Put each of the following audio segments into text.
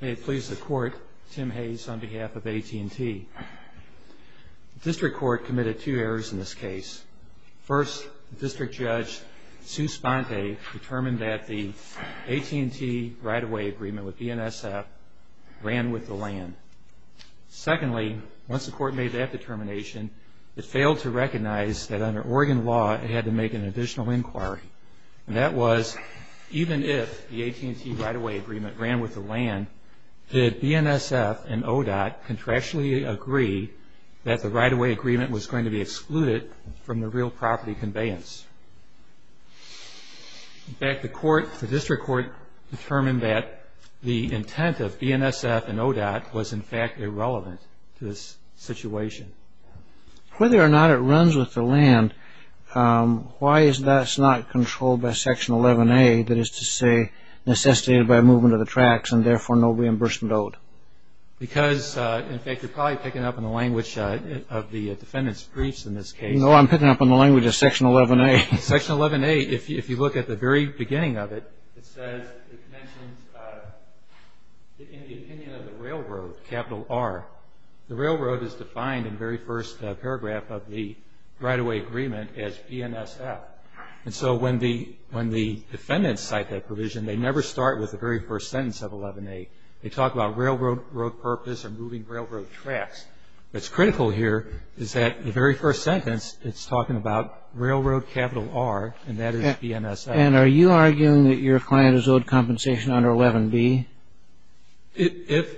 May it please the Court, Tim Hayes on behalf of AT&T. The District Court committed two errors in this case. First, District Judge Sue Sponte determined that the AT&T right-of-way agreement with BNSF ran with the land. Secondly, once the Court made that determination, it failed to recognize that under Oregon law it had to make an additional inquiry. That was, even if the AT&T right-of-way agreement ran with the land, did BNSF and ODOT contractually agree that the right-of-way agreement was going to be excluded from the real property conveyance? In fact, the District Court determined that the intent of BNSF and ODOT was in fact irrelevant to this situation. Whether or not it runs with the land, why is that not controlled by Section 11A, that is to say, necessitated by movement of the tracks and therefore no reimbursement owed? Because, in fact, you're probably picking up on the language of the defendant's briefs in this case. No, I'm picking up on the language of Section 11A. Section 11A, if you look at the very beginning of it, it says, it mentions in the opinion of the railroad, capital R, the railroad is defined in the very first paragraph of the right-of-way agreement as BNSF. And so when the defendants cite that provision, they never start with the very first sentence of 11A. They talk about railroad purpose or moving railroad tracks. What's critical here is that the very first sentence, it's talking about railroad capital R, and that is BNSF. And are you arguing that your client is owed compensation under 11B? If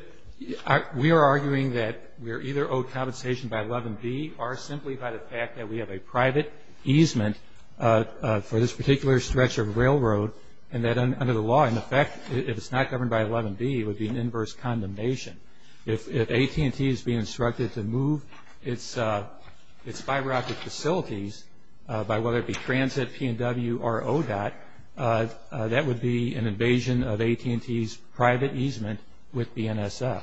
we are arguing that we are either owed compensation by 11B or simply by the fact that we have a private easement for this particular stretch of railroad, and that under the law, in effect, if it's not governed by 11B, it would be an inverse condemnation. If AT&T is being instructed to move its spy rocket facilities by whether it be transit, P&W, or ODOT, that would be an invasion of AT&T's private easement with BNSF.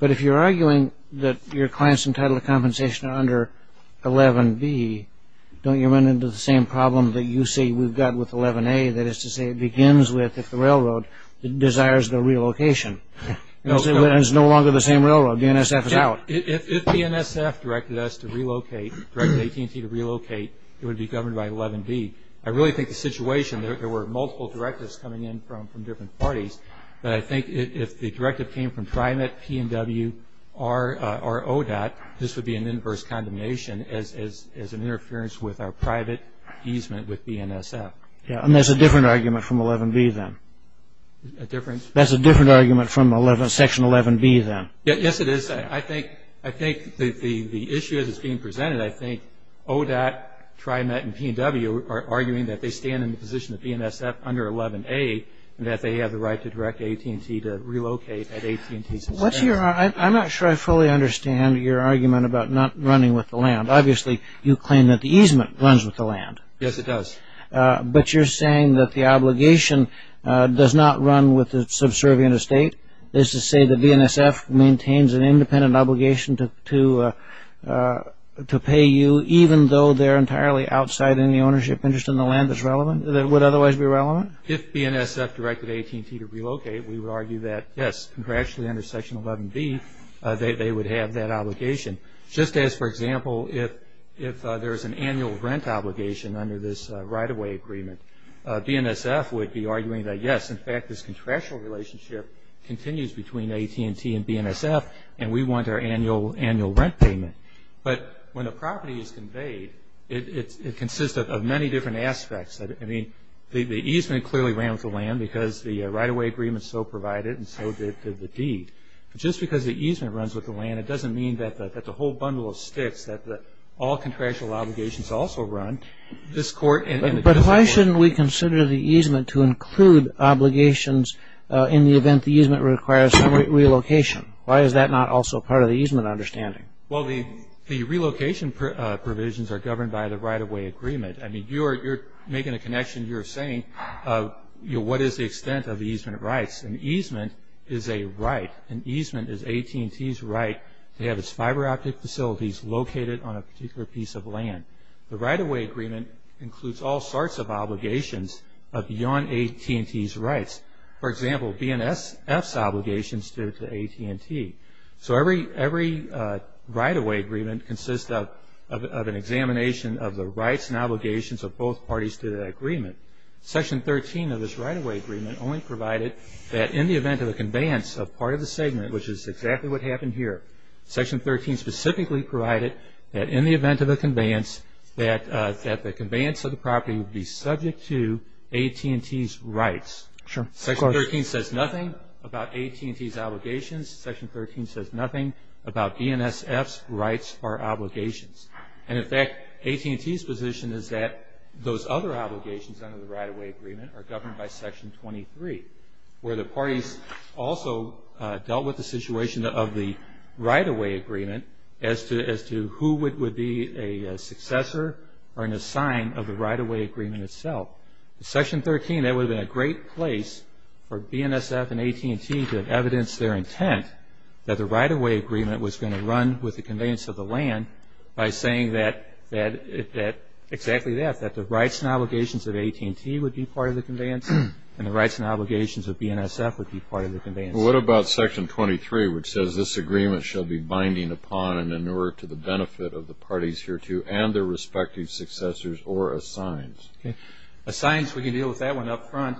But if you're arguing that your client is entitled to compensation under 11B, don't you run into the same problem that you say we've got with 11A? That is to say, it begins with, if the railroad desires the relocation. It's no longer the same railroad. BNSF is out. If BNSF directed us to relocate, directed AT&T to relocate, it would be governed by 11B. I really think the situation, there were multiple directives coming in from different parties, but I think if the directive came from TriMet, P&W, or ODOT, this would be an inverse condemnation as an interference with our private easement with BNSF. And that's a different argument from 11B, then? A difference? That's a different argument from Section 11B, then? Yes, it is. I think the issue that's being presented, I think ODOT, TriMet, and P&W are arguing that they stand in the position of BNSF under 11A, and that they have the right to direct AT&T to relocate at AT&T's expense. I'm not sure I fully understand your argument about not running with the land. Obviously, you claim that the easement runs with the land. Yes, it does. But you're saying that the obligation does not run with the subservient estate? This is to say that BNSF maintains an independent obligation to pay you, even though they're entirely outside any ownership interest in the land that's relevant, that would otherwise be relevant? If BNSF directed AT&T to relocate, we would argue that, yes, contractually under Section 11B, they would have that obligation. Just as, for example, if there's an annual rent obligation under this right-of-way agreement, BNSF would be arguing that, yes, in fact, this contractual relationship continues between AT&T and BNSF, and we want our annual rent payment. But when a property is conveyed, it consists of many different aspects. I mean, the easement clearly ran with the land because the right-of-way agreement so provided, and so did the deed. Just because the easement runs with the land, it doesn't mean that the whole bundle of sticks that all contractual obligations also run. But why shouldn't we consider the easement to include obligations in the event the easement requires relocation? Why is that not also part of the easement understanding? Well, the relocation provisions are governed by the right-of-way agreement. I mean, you're making a connection. You're saying, you know, what is the extent of the easement rights? An easement is a right. An easement is AT&T's right to have its fiber optic facilities located on a particular piece of land. The right-of-way agreement includes all sorts of obligations beyond AT&T's rights. For example, BNSF's obligations to AT&T. So every right-of-way agreement consists of an examination of the rights and obligations of both parties to that agreement. Section 13 of this right-of-way agreement only provided that in the event of a conveyance of part of the segment, which is exactly what happened here, Section 13 specifically provided that in the event of a conveyance, that the conveyance of the property would be subject to AT&T's rights. Sure. Section 13 says nothing about AT&T's obligations. Section 13 says nothing about BNSF's rights or obligations. And, in fact, AT&T's position is that those other obligations under the right-of-way agreement are governed by Section 23, where the parties also dealt with the situation of the right-of-way agreement as to who would be a successor or an assigned of the right-of-way agreement itself. In Section 13, that would have been a great place for BNSF and AT&T to have evidenced their intent that the right-of-way agreement was going to run with the conveyance of the land by saying exactly that, that the rights and obligations of AT&T would be part of the conveyance and the rights and obligations of BNSF would be part of the conveyance. Well, what about Section 23, which says, this agreement shall be binding upon and in order to the benefit of the parties hereto and their respective successors or assigned? Okay. Assigns, we can deal with that one up front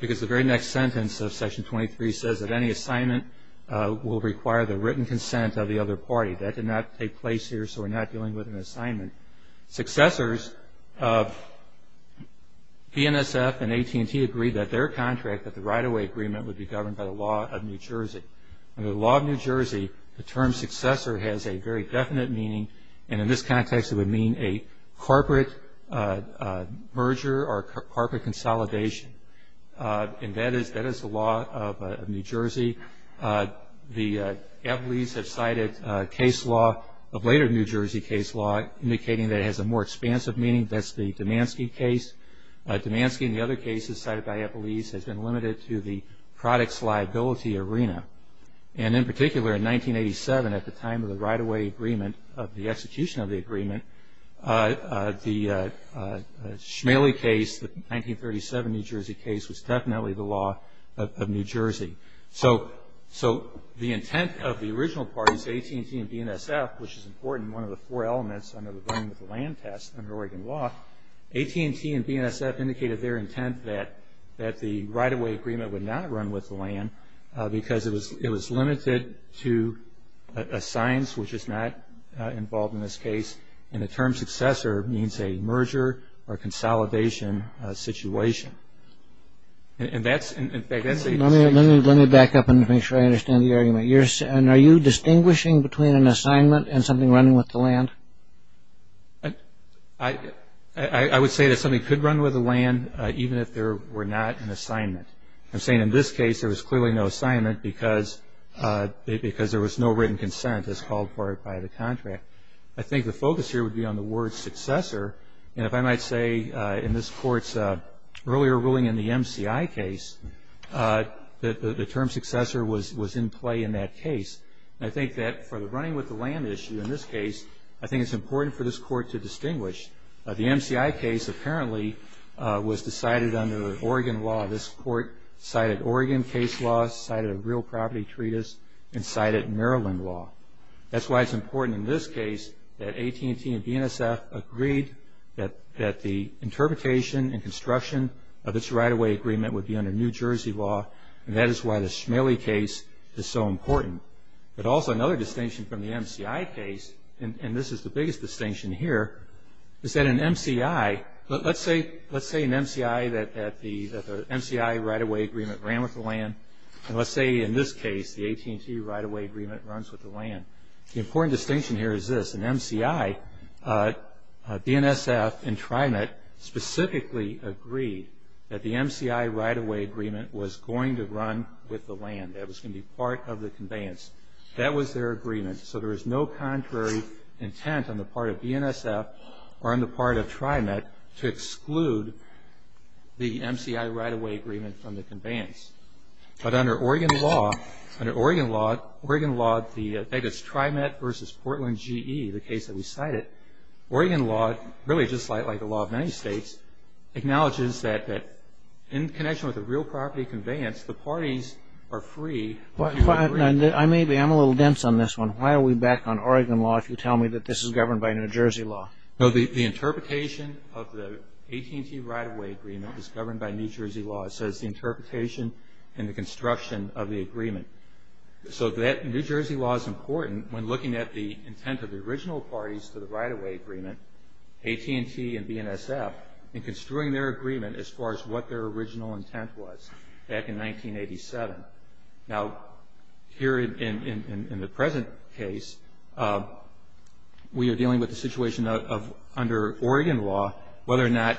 because the very next sentence of Section 23 says that any assignment will require the written consent of the other party. Successors of BNSF and AT&T agreed that their contract, that the right-of-way agreement would be governed by the law of New Jersey. Under the law of New Jersey, the term successor has a very definite meaning, and in this context it would mean a corporate merger or corporate consolidation, and that is the law of New Jersey. The Eppley's have cited a case law, a later New Jersey case law, indicating that it has a more expansive meaning. That's the Damansky case. Damansky and the other cases cited by Eppley's has been limited to the products liability arena, and in particular in 1987 at the time of the right-of-way agreement, of the execution of the agreement, the Schmaley case, the 1937 New Jersey case was definitely the law of New Jersey. So the intent of the original parties, AT&T and BNSF, which is important, one of the four elements under the running with the land test under Oregon law, AT&T and BNSF indicated their intent that the right-of-way agreement would not run with the land because it was limited to assigns, which is not involved in this case, and the term successor means a merger or consolidation situation. Let me back up and make sure I understand the argument. Are you distinguishing between an assignment and something running with the land? I would say that something could run with the land even if there were not an assignment. I'm saying in this case there was clearly no assignment because there was no written consent as called for by the contract. I think the focus here would be on the word successor, and if I might say in this Court's earlier ruling in the MCI case, the term successor was in play in that case. I think that for the running with the land issue in this case, I think it's important for this Court to distinguish. The MCI case apparently was decided under Oregon law. This Court cited Oregon case law, cited a real property treatise, and cited Maryland law. That's why it's important in this case that AT&T and BNSF agreed that the interpretation and construction of its right-of-way agreement would be under New Jersey law, and that is why the Schmaley case is so important. But also another distinction from the MCI case, and this is the biggest distinction here, is that in MCI, let's say in MCI that the MCI right-of-way agreement ran with the land, and let's say in this case the AT&T right-of-way agreement runs with the land. The important distinction here is this. In MCI, BNSF and TriMet specifically agreed that the MCI right-of-way agreement was going to run with the land. It was going to be part of the conveyance. That was their agreement, so there was no contrary intent on the part of BNSF or on the part of TriMet to exclude the MCI right-of-way agreement from the conveyance. But under Oregon law, it's TriMet versus Portland GE, the case that we cited. Oregon law, really just like the law of many states, acknowledges that in connection with a real property conveyance, the parties are free. I'm a little dense on this one. Why are we back on Oregon law if you tell me that this is governed by New Jersey law? The interpretation of the AT&T right-of-way agreement is governed by New Jersey law. It says the interpretation and the construction of the agreement. So New Jersey law is important when looking at the intent of the original parties to the right-of-way agreement, AT&T and BNSF, in construing their agreement as far as what their original intent was back in 1987. Now, here in the present case, we are dealing with the situation of, under Oregon law, whether or not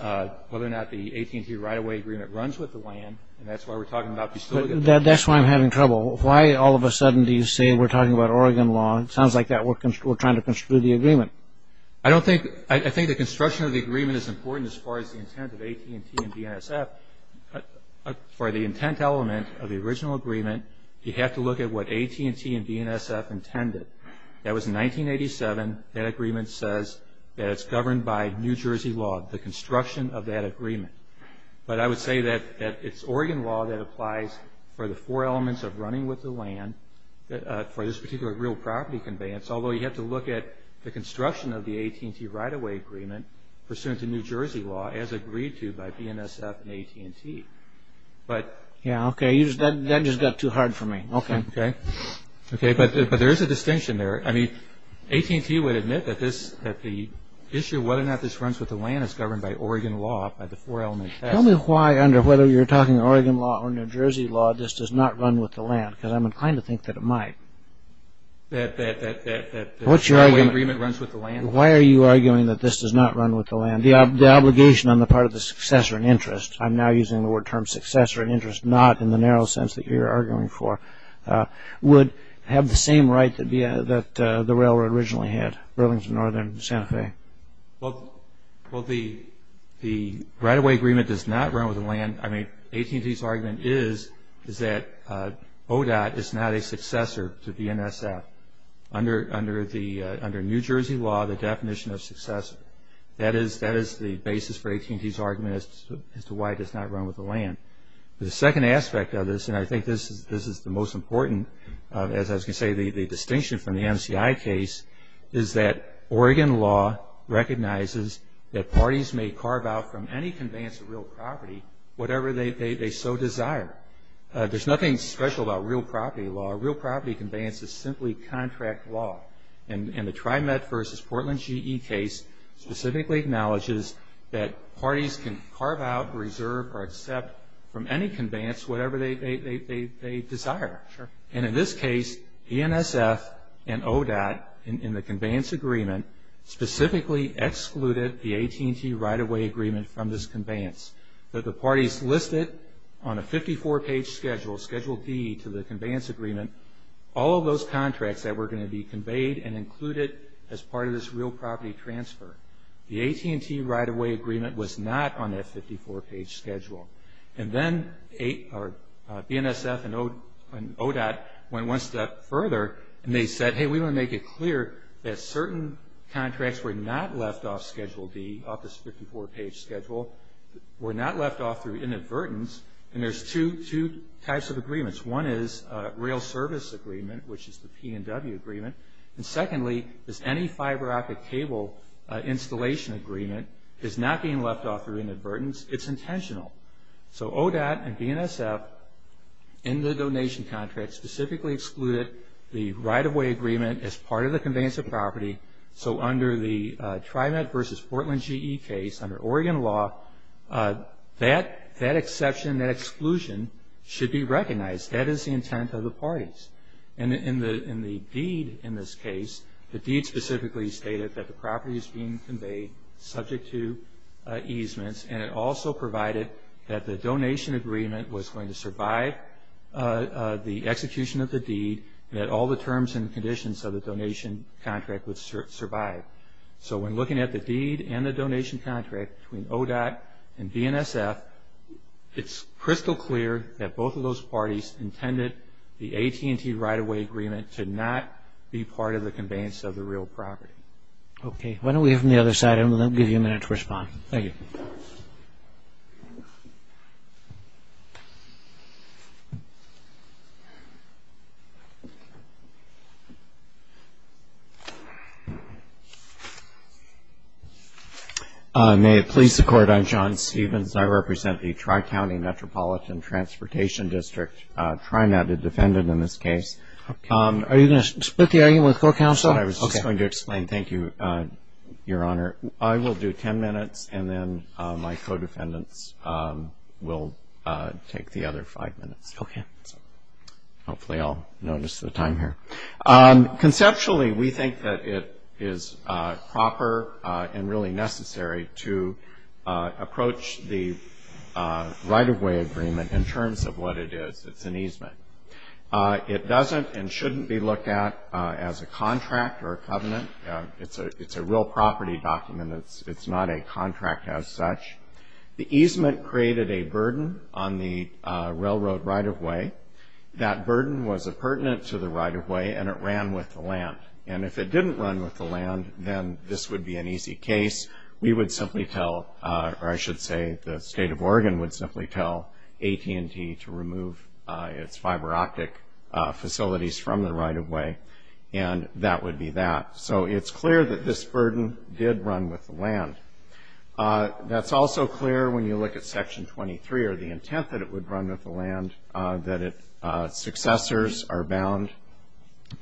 the AT&T right-of-way agreement runs with the land, and that's why we're talking about distilling it. That's why I'm having trouble. Why all of a sudden do you say we're talking about Oregon law? It sounds like we're trying to construe the agreement. I think the construction of the agreement is important as far as the intent of AT&T and BNSF. For the intent element of the original agreement, you have to look at what AT&T and BNSF intended. That was in 1987. That agreement says that it's governed by New Jersey law, the construction of that agreement. But I would say that it's Oregon law that applies for the four elements of running with the land for this particular real property conveyance, although you have to look at the construction of the AT&T right-of-way agreement pursuant to New Jersey law as agreed to by BNSF and AT&T. Okay, that just got too hard for me. Okay, but there is a distinction there. AT&T would admit that the issue of whether or not this runs with the land is governed by Oregon law, by the four element test. Tell me why, under whether you're talking Oregon law or New Jersey law, this does not run with the land, because I'm inclined to think that it might. That the right-of-way agreement runs with the land? Why are you arguing that this does not run with the land? The obligation on the part of the successor in interest, I'm now using the word term successor in interest, not in the narrow sense that you're arguing for, would have the same right that the railroad originally had, Burlington, Northern, Santa Fe. Well, the right-of-way agreement does not run with the land. AT&T's argument is that ODOT is not a successor to BNSF. Under New Jersey law, the definition of successor, that is the basis for AT&T's argument as to why it does not run with the land. The second aspect of this, and I think this is the most important, as I was going to say, the distinction from the MCI case, is that Oregon law recognizes that parties may carve out from any conveyance of real property whatever they so desire. There's nothing special about real property law. It's simply contract law. The TriMet v. Portland GE case specifically acknowledges that parties can carve out, reserve, or accept from any conveyance whatever they desire. In this case, BNSF and ODOT, in the conveyance agreement, specifically excluded the AT&T right-of-way agreement from this conveyance. The parties listed on a 54-page schedule, Schedule D to the conveyance agreement, all of those contracts that were going to be conveyed and included as part of this real property transfer. The AT&T right-of-way agreement was not on that 54-page schedule. And then BNSF and ODOT went one step further and they said, hey, we want to make it clear that certain contracts were not left off Schedule D, off this 54-page schedule, were not left off through inadvertence, and there's two types of agreements. One is a real service agreement, which is the P&W agreement, and secondly is any fiber optic cable installation agreement is not being left off through inadvertence. It's intentional. So ODOT and BNSF, in the donation contract, specifically excluded the right-of-way agreement as part of the conveyance of property. So under the TriMet v. Portland GE case, under Oregon law, that exception, that exclusion should be recognized. That is the intent of the parties. And in the deed in this case, the deed specifically stated that the property is being conveyed subject to easements and it also provided that the donation agreement was going to survive the execution of the deed and that all the terms and conditions of the donation contract would survive. So when looking at the deed and the donation contract between ODOT and BNSF, it's crystal clear that both of those parties intended the AT&T right-of-way agreement to not be part of the conveyance of the real property. Okay. Why don't we have them on the other side, and we'll give you a minute to respond. Thank you. May it please the Court. I'm John Stevens, and I represent the Tri-County Metropolitan Transportation District, TriMet, a defendant in this case. Are you going to split the argument with court counsel? I was just going to explain. Thank you, Your Honor. I will do ten minutes, and then my co-defendants will take the other five minutes. Okay. Hopefully, I'll notice the time here. Conceptually, we think that it is proper and really necessary to approach the right-of-way agreement in terms of what it is. It's an easement. It doesn't and shouldn't be looked at as a contract or a covenant. It's a real property document. It's not a contract as such. The easement created a burden on the railroad right-of-way. That burden was appurtenant to the right-of-way, and it ran with the land. And if it didn't run with the land, then this would be an easy case. We would simply tell, or I should say the State of Oregon would simply tell AT&T to remove its fiber optic facilities from the right-of-way, and that would be that. So it's clear that this burden did run with the land. That's also clear when you look at Section 23, or the intent that it would run with the land, that successors are bound.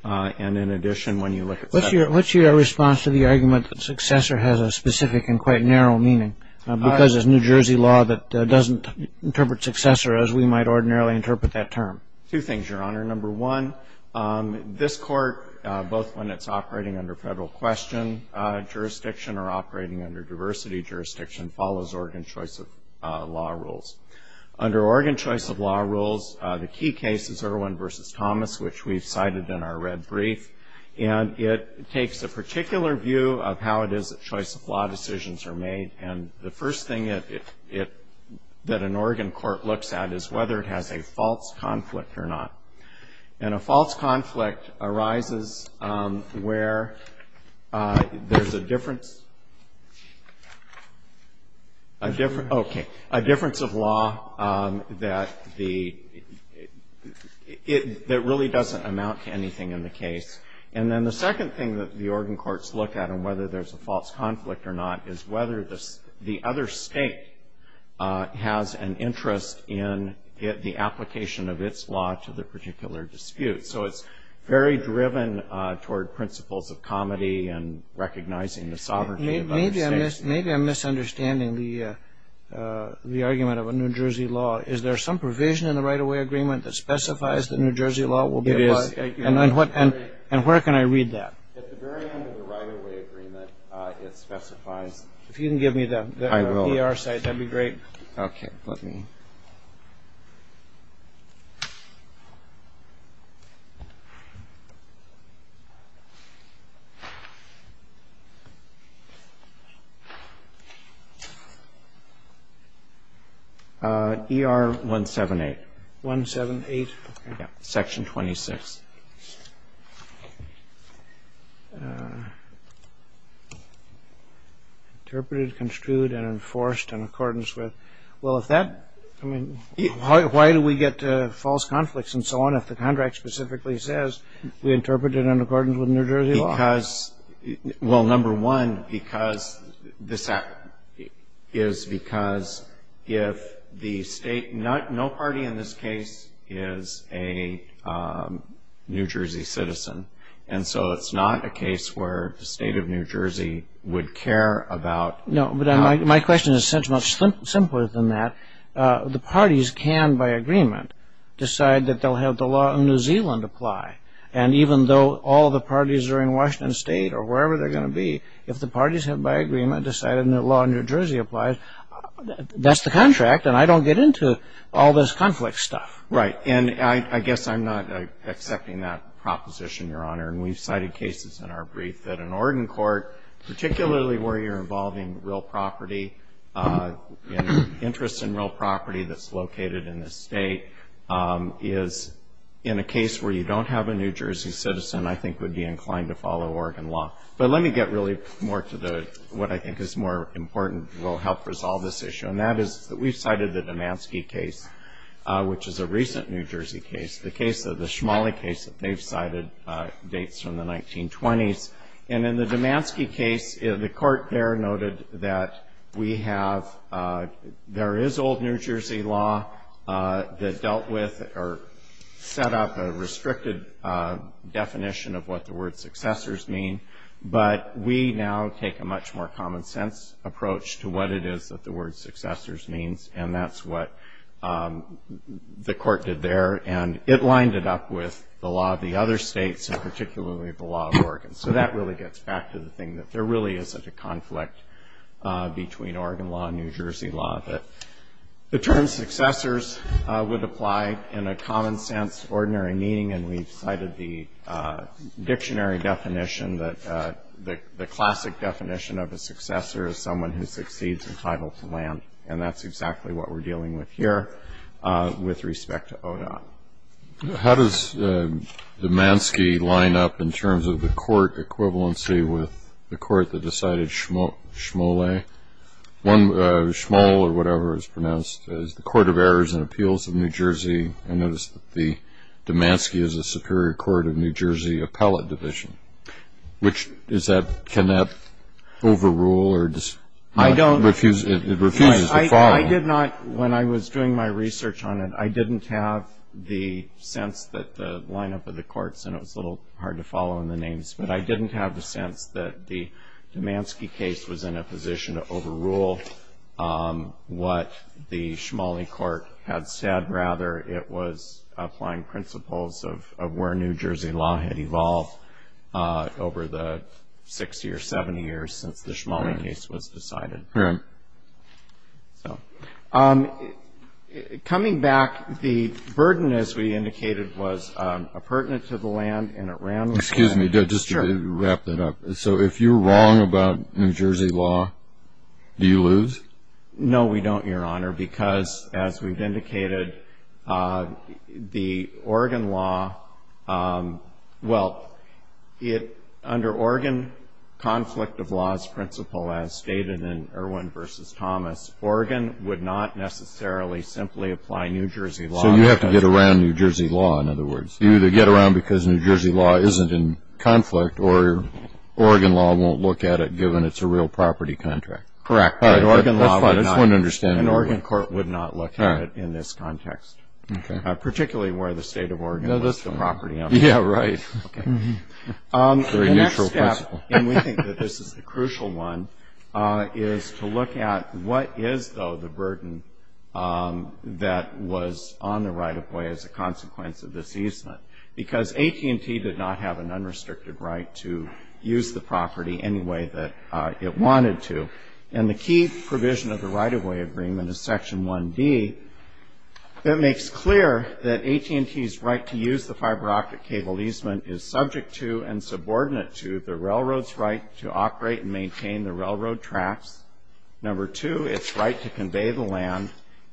And in addition, when you look at that. What's your response to the argument that successor has a specific and quite narrow meaning because it's New Jersey law that doesn't interpret successor as we might ordinarily interpret that term? Two things, Your Honor. Number one, this court, both when it's operating under federal question jurisdiction or operating under diversity jurisdiction, follows Oregon choice of law rules. Under Oregon choice of law rules, the key case is Irwin v. Thomas, which we've cited in our red brief. And it takes a particular view of how it is that choice of law decisions are made. And the first thing that an Oregon court looks at is whether it has a false conflict or not. And a false conflict arises where there's a difference of law that really doesn't amount to anything in the case. And then the second thing that the Oregon courts look at, and whether there's a false conflict or not, is whether the other state has an interest in the application of its law to the particular dispute. So it's very driven toward principles of comity and recognizing the sovereignty of other states. Maybe I'm misunderstanding the argument of a New Jersey law. Is there some provision in the right-of-way agreement that specifies that New Jersey law will be a law? It is. And where can I read that? At the very end of the right-of-way agreement, it specifies. If you can give me the ER site, that would be great. Okay, let me. ER 178. 178? Yeah, Section 26. Interpreted, construed, and enforced in accordance with. Well, if that, I mean, why do we get false conflicts and so on if the contract specifically says, we interpret it in accordance with New Jersey law? Because, well, number one, because this is because if the state, no party in this case is a New Jersey citizen. And so it's not a case where the state of New Jersey would care about. No, but my question is much simpler than that. The parties can, by agreement, decide that they'll have the law in New Zealand apply. And even though all the parties are in Washington State or wherever they're going to be, if the parties have by agreement decided the law in New Jersey applies, that's the contract. And I don't get into all this conflict stuff. Right. And I guess I'm not accepting that proposition, Your Honor. And we've cited cases in our brief that an Oregon court, particularly where you're involving real property and interest in real property that's located in the state, is in a case where you don't have a New Jersey citizen, I think, would be inclined to follow Oregon law. But let me get really more to what I think is more important, will help resolve this issue. And that is that we've cited the Damansky case, which is a recent New Jersey case, the case of the Shmoley case that they've cited dates from the 1920s. And in the Damansky case, the court there noted that we have ‑‑ there is old New Jersey law that dealt with or set up a restricted definition of what the word successors mean. But we now take a much more common sense approach to what it is that the word successors means. And that's what the court did there. And it lined it up with the law of the other states, and particularly the law of Oregon. So that really gets back to the thing that there really isn't a conflict between Oregon law and New Jersey law. The term successors would apply in a common sense, ordinary meaning. And we've cited the dictionary definition that the classic definition of a successor is someone who succeeds entitled to land. And that's exactly what we're dealing with here with respect to ODOT. How does Damansky line up in terms of the court equivalency with the court that decided Shmoley? One, Shmole, or whatever it's pronounced, is the Court of Errors and Appeals of New Jersey. I noticed that Damansky is the Superior Court of New Jersey Appellate Division. Can that overrule? It refuses to follow. When I was doing my research on it, I didn't have the sense that the line up of the courts, and it was a little hard to follow in the names, but I didn't have the sense that the Damansky case was in a position to overrule what the Shmoley court had said. Rather, it was applying principles of where New Jersey law had evolved over the 60 or 70 years since the Shmoley case was decided. Coming back, the burden, as we indicated, was appurtenant to the land and it ran with the land. Excuse me, just to wrap that up. So if you're wrong about New Jersey law, do you lose? No, we don't, Your Honor, because, as we've indicated, the Oregon law, well, under Oregon conflict of laws principle, as stated in Irwin v. Thomas, Oregon would not necessarily simply apply New Jersey law. So you have to get around New Jersey law, in other words. You either get around because New Jersey law isn't in conflict or Oregon law won't look at it given it's a real property contract. Correct. That's fine. I just want to understand. An Oregon court would not look at it in this context, particularly where the state of Oregon was the property owner. Yeah, right. Very neutral principle. The next step, and we think that this is the crucial one, is to look at what is, though, the burden that was on the right-of-way as a consequence of this easement, because AT&T did not have an unrestricted right to use the property any way that it wanted to. And the key provision of the right-of-way agreement is Section 1D that makes clear that AT&T's right to use the fiber optic cable easement is subject to and subordinate to the railroad's right to operate and maintain the railroad tracks. Number two, it's right to convey the land.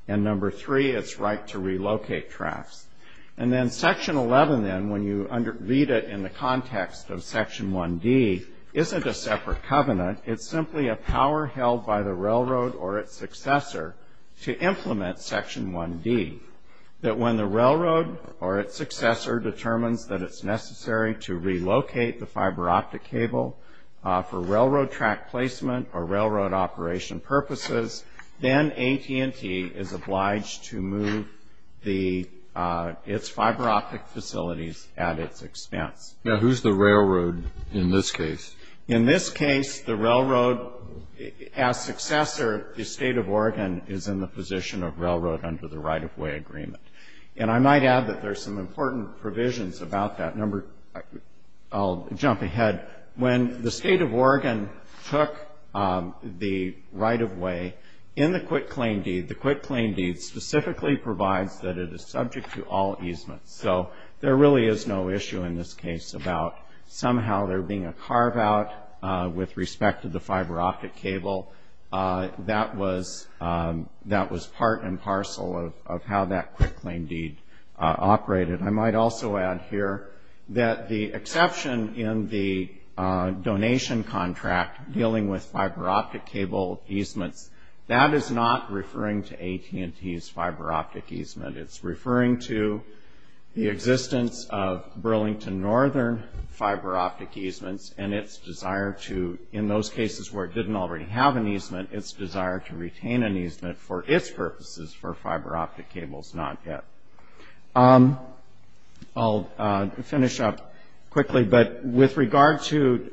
And number three, it's right to relocate tracks. And then Section 11, then, when you read it in the context of Section 1D, isn't a separate covenant. It's simply a power held by the railroad or its successor to implement Section 1D, that when the railroad or its successor determines that it's necessary to relocate the fiber optic cable for railroad track placement or railroad operation purposes, then AT&T is obliged to move its fiber optic facilities at its expense. Now, who's the railroad in this case? In this case, the railroad, as successor, the State of Oregon, is in the position of railroad under the right-of-way agreement. And I might add that there's some important provisions about that. I'll jump ahead. When the State of Oregon took the right-of-way in the quitclaim deed, the quitclaim deed specifically provides that it is subject to all easements. So there really is no issue in this case about somehow there being a carve-out with respect to the fiber optic cable. That was part and parcel of how that quitclaim deed operated. I might also add here that the exception in the donation contract dealing with fiber optic cable easements, that is not referring to AT&T's fiber optic easement. It's referring to the existence of Burlington Northern fiber optic easements and its desire to, in those cases where it didn't already have an easement, its desire to retain an easement for its purposes for fiber optic cables not yet. I'll finish up quickly. But with regard to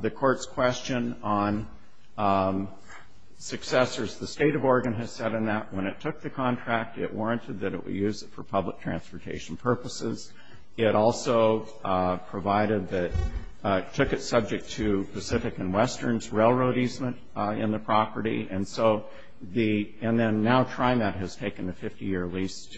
the Court's question on successors, the State of Oregon has said in that when it took the contract, it warranted that it would use it for public transportation purposes. It also provided that it took it subject to Pacific and Western's railroad easement in the property. And then now TriMet has taken a 50-year lease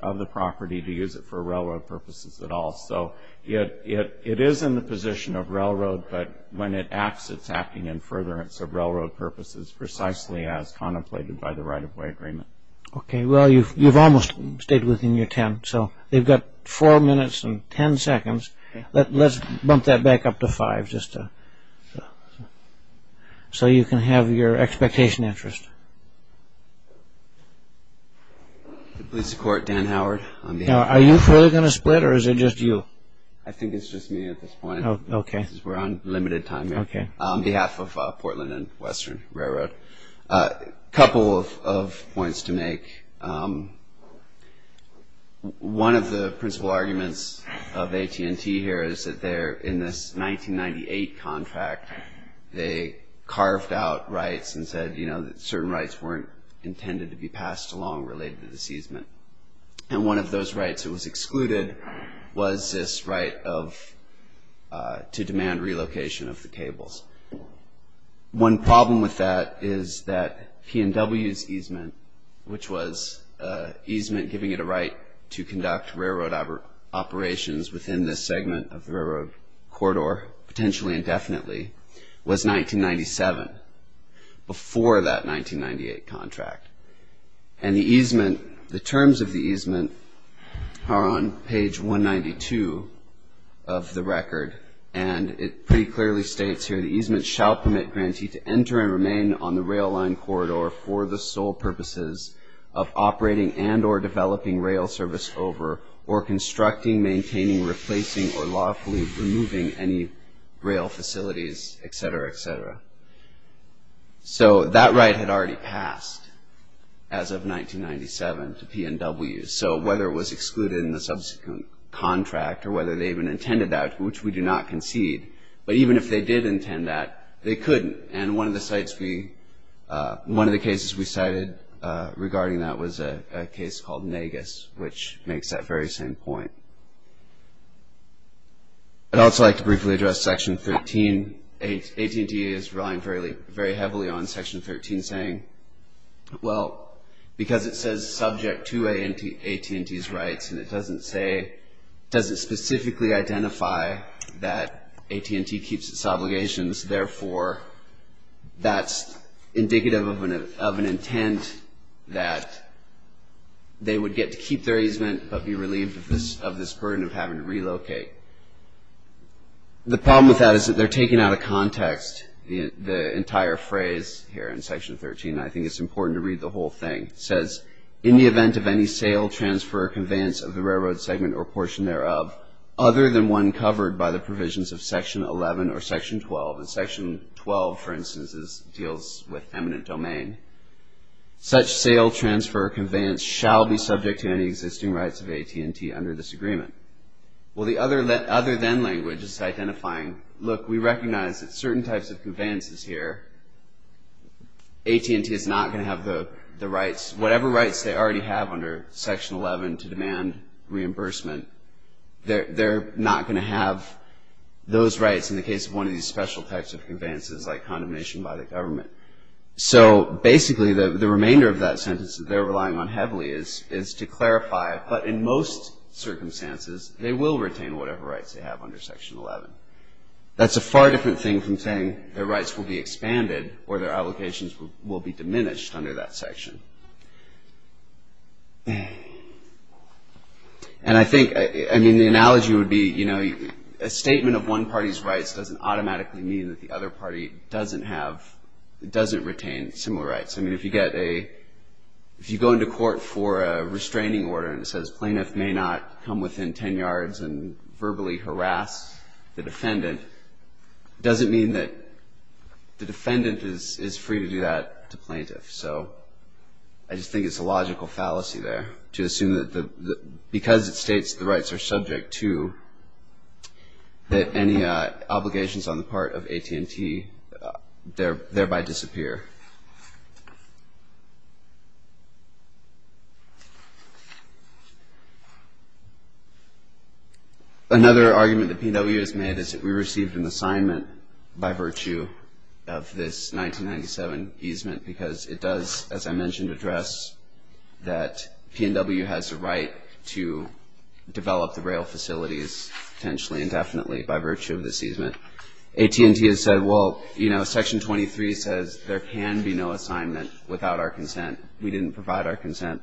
of the property to use it for railroad purposes at all. So it is in the position of railroad, but when it acts it's acting in furtherance of railroad purposes precisely as contemplated by the right-of-way agreement. Okay, well you've almost stayed within your ten. So they've got four minutes and ten seconds. Let's bump that back up to five. So you can have your expectation interest. Please support Dan Howard. Are you going to split or is it just you? I think it's just me at this point. We're on limited time here. On behalf of Portland and Western Railroad, a couple of points to make. One of the principal arguments of AT&T here is that in this 1998 contract they carved out rights and said that certain rights weren't intended to be passed along related to this easement. And one of those rights that was excluded was this right to demand relocation of the cables. One problem with that is that P&W's easement, which was easement giving it a right to conduct railroad operations within this segment of the railroad corridor, potentially indefinitely, was 1997, before that 1998 contract. And the easement, the terms of the easement are on page 192 of the record, and it pretty clearly states here, the easement shall permit grantee to enter and remain on the rail line corridor for the sole purposes of operating and or developing rail service over or constructing, maintaining, replacing, or lawfully removing any rail facilities, etc., etc. So that right had already passed as of 1997 to P&W. So whether it was excluded in the subsequent contract or whether they even intended that, which we do not concede, but even if they did intend that, they couldn't. And one of the cases we cited regarding that was a case called Nagus, which makes that very same point. I'd also like to briefly address Section 13. AT&T is relying very heavily on Section 13, saying, well, because it says subject to AT&T's rights and it doesn't specifically identify that AT&T keeps its obligations, therefore that's indicative of an intent that they would get to keep their easement but be relieved of this burden of having to relocate. The problem with that is that they're taking out of context the entire phrase here in Section 13, and I think it's important to read the whole thing. It says, in the event of any sale, transfer, or conveyance of the railroad segment or portion thereof, other than one covered by the provisions of Section 11 or Section 12, and Section 12, for instance, deals with eminent domain, such sale, transfer, or conveyance shall be subject to any existing rights of AT&T under this agreement. Well, the other then language is identifying, look, we recognize that certain types of conveyances here, AT&T is not going to have the rights, whatever rights they already have under Section 11 to demand reimbursement, they're not going to have those rights in the case of one of these special types of conveyances like condemnation by the government. So basically the remainder of that sentence that they're relying on heavily is to clarify, but in most circumstances they will retain whatever rights they have under Section 11. That's a far different thing from saying their rights will be expanded or their obligations will be diminished under that section. And I think, I mean, the analogy would be, you know, a statement of one party's rights doesn't automatically mean that the other party doesn't have, doesn't retain similar rights. I mean, if you get a, if you go into court for a restraining order and it says, plaintiff may not come within 10 yards and verbally harass the defendant, doesn't mean that the defendant is free to do that to plaintiff. So I just think it's a logical fallacy there to assume that because it states the rights are subject to, that any obligations on the part of AT&T thereby disappear. Another argument that P&W has made is that we received an assignment by virtue of this 1997 easement because it does, as I mentioned, address that P&W has a right to develop the rail facilities potentially and definitely by virtue of this easement. AT&T has said, well, you know, Section 23 says there can be no assignment without our consent. We didn't provide our consent.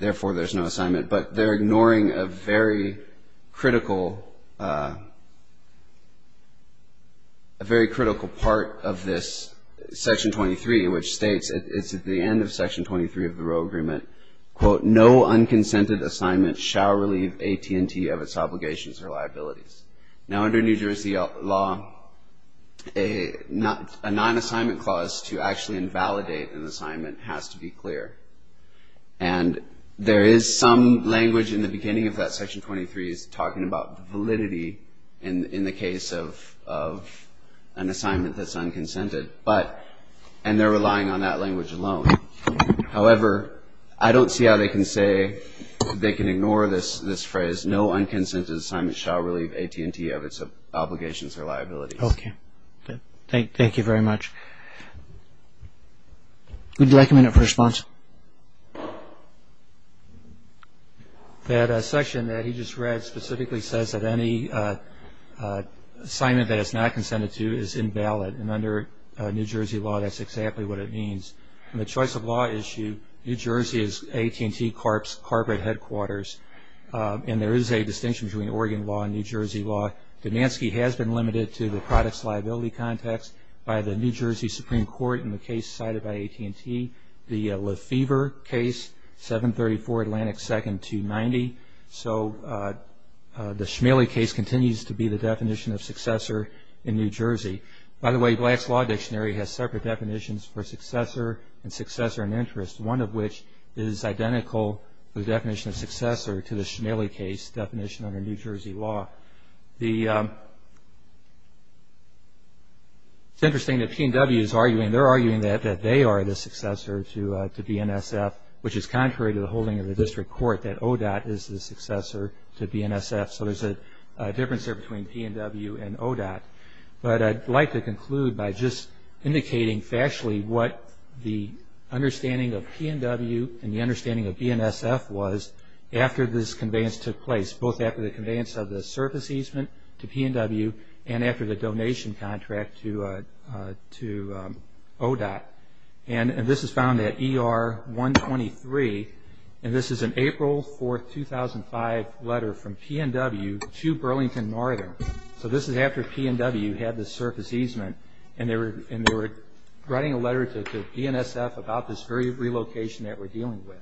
Therefore, there's no assignment. But they're ignoring a very critical, a very critical part of this Section 23, which states, it's at the end of Section 23 of the Rail Agreement, quote, no unconsented assignment shall relieve AT&T of its obligations or liabilities. Now, under New Jersey law, a non-assignment clause to actually invalidate an assignment has to be clear. And there is some language in the beginning of that Section 23 is talking about validity in the case of an assignment that's unconsented, but, and they're relying on that language alone. However, I don't see how they can say, they can ignore this phrase, no unconsented assignment shall relieve AT&T of its obligations or liabilities. Okay. Thank you very much. Would you like a minute for response? That section that he just read specifically says that any assignment that is not consented to is invalid. And under New Jersey law, that's exactly what it means. In the choice of law issue, New Jersey is AT&T corporate headquarters. And there is a distinction between Oregon law and New Jersey law. Donanski has been limited to the products liability context by the New Jersey Supreme Court in the case cited by AT&T. The Lefevre case, 734 Atlantic 2nd, 290. So the Schmaley case continues to be the definition of successor in New Jersey. By the way, Black's Law Dictionary has separate definitions for successor and successor in interest, one of which is identical to the definition of successor to the Schmaley case definition under New Jersey law. It's interesting that P&W is arguing, they're arguing that they are the successor to BNSF, which is contrary to the holding of the district court that ODOT is the successor to BNSF. So there's a difference there between P&W and ODOT. But I'd like to conclude by just indicating factually what the understanding of P&W and the understanding of BNSF was after this conveyance took place, both after the conveyance of the service easement to P&W and after the donation contract to ODOT. And this is found at ER 123, and this is an April 4, 2005 letter from P&W to Burlington Northern. So this is after P&W had the service easement, and they were writing a letter to BNSF about this very relocation that we're dealing with.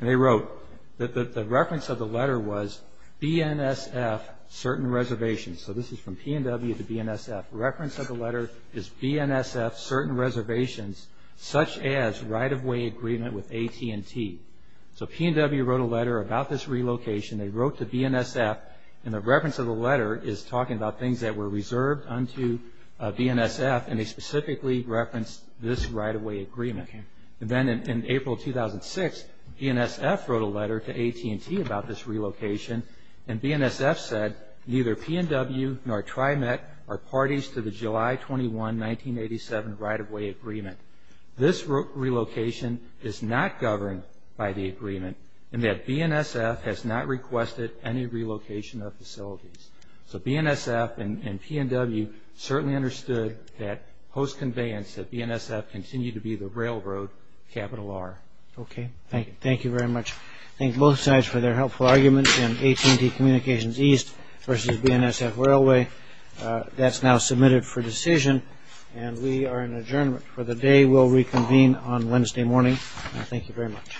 And they wrote that the reference of the letter was BNSF certain reservations. So this is from P&W to BNSF. Reference of the letter is BNSF certain reservations, such as right-of-way agreement with AT&T. So P&W wrote a letter about this relocation. They wrote to BNSF, and the reference of the letter is talking about things that were reserved unto BNSF, and they specifically referenced this right-of-way agreement. And then in April 2006, BNSF wrote a letter to AT&T about this relocation, and BNSF said neither P&W nor TriMet are parties to the July 21, 1987 right-of-way agreement. This relocation is not governed by the agreement, and that BNSF has not requested any relocation of facilities. So BNSF and P&W certainly understood that, post-conveyance, that BNSF continued to be the railroad, capital R. Thank you very much. Thank both sides for their helpful arguments in AT&T Communications East versus BNSF Railway. That's now submitted for decision, and we are in adjournment for the day. We'll reconvene on Wednesday morning. Thank you very much.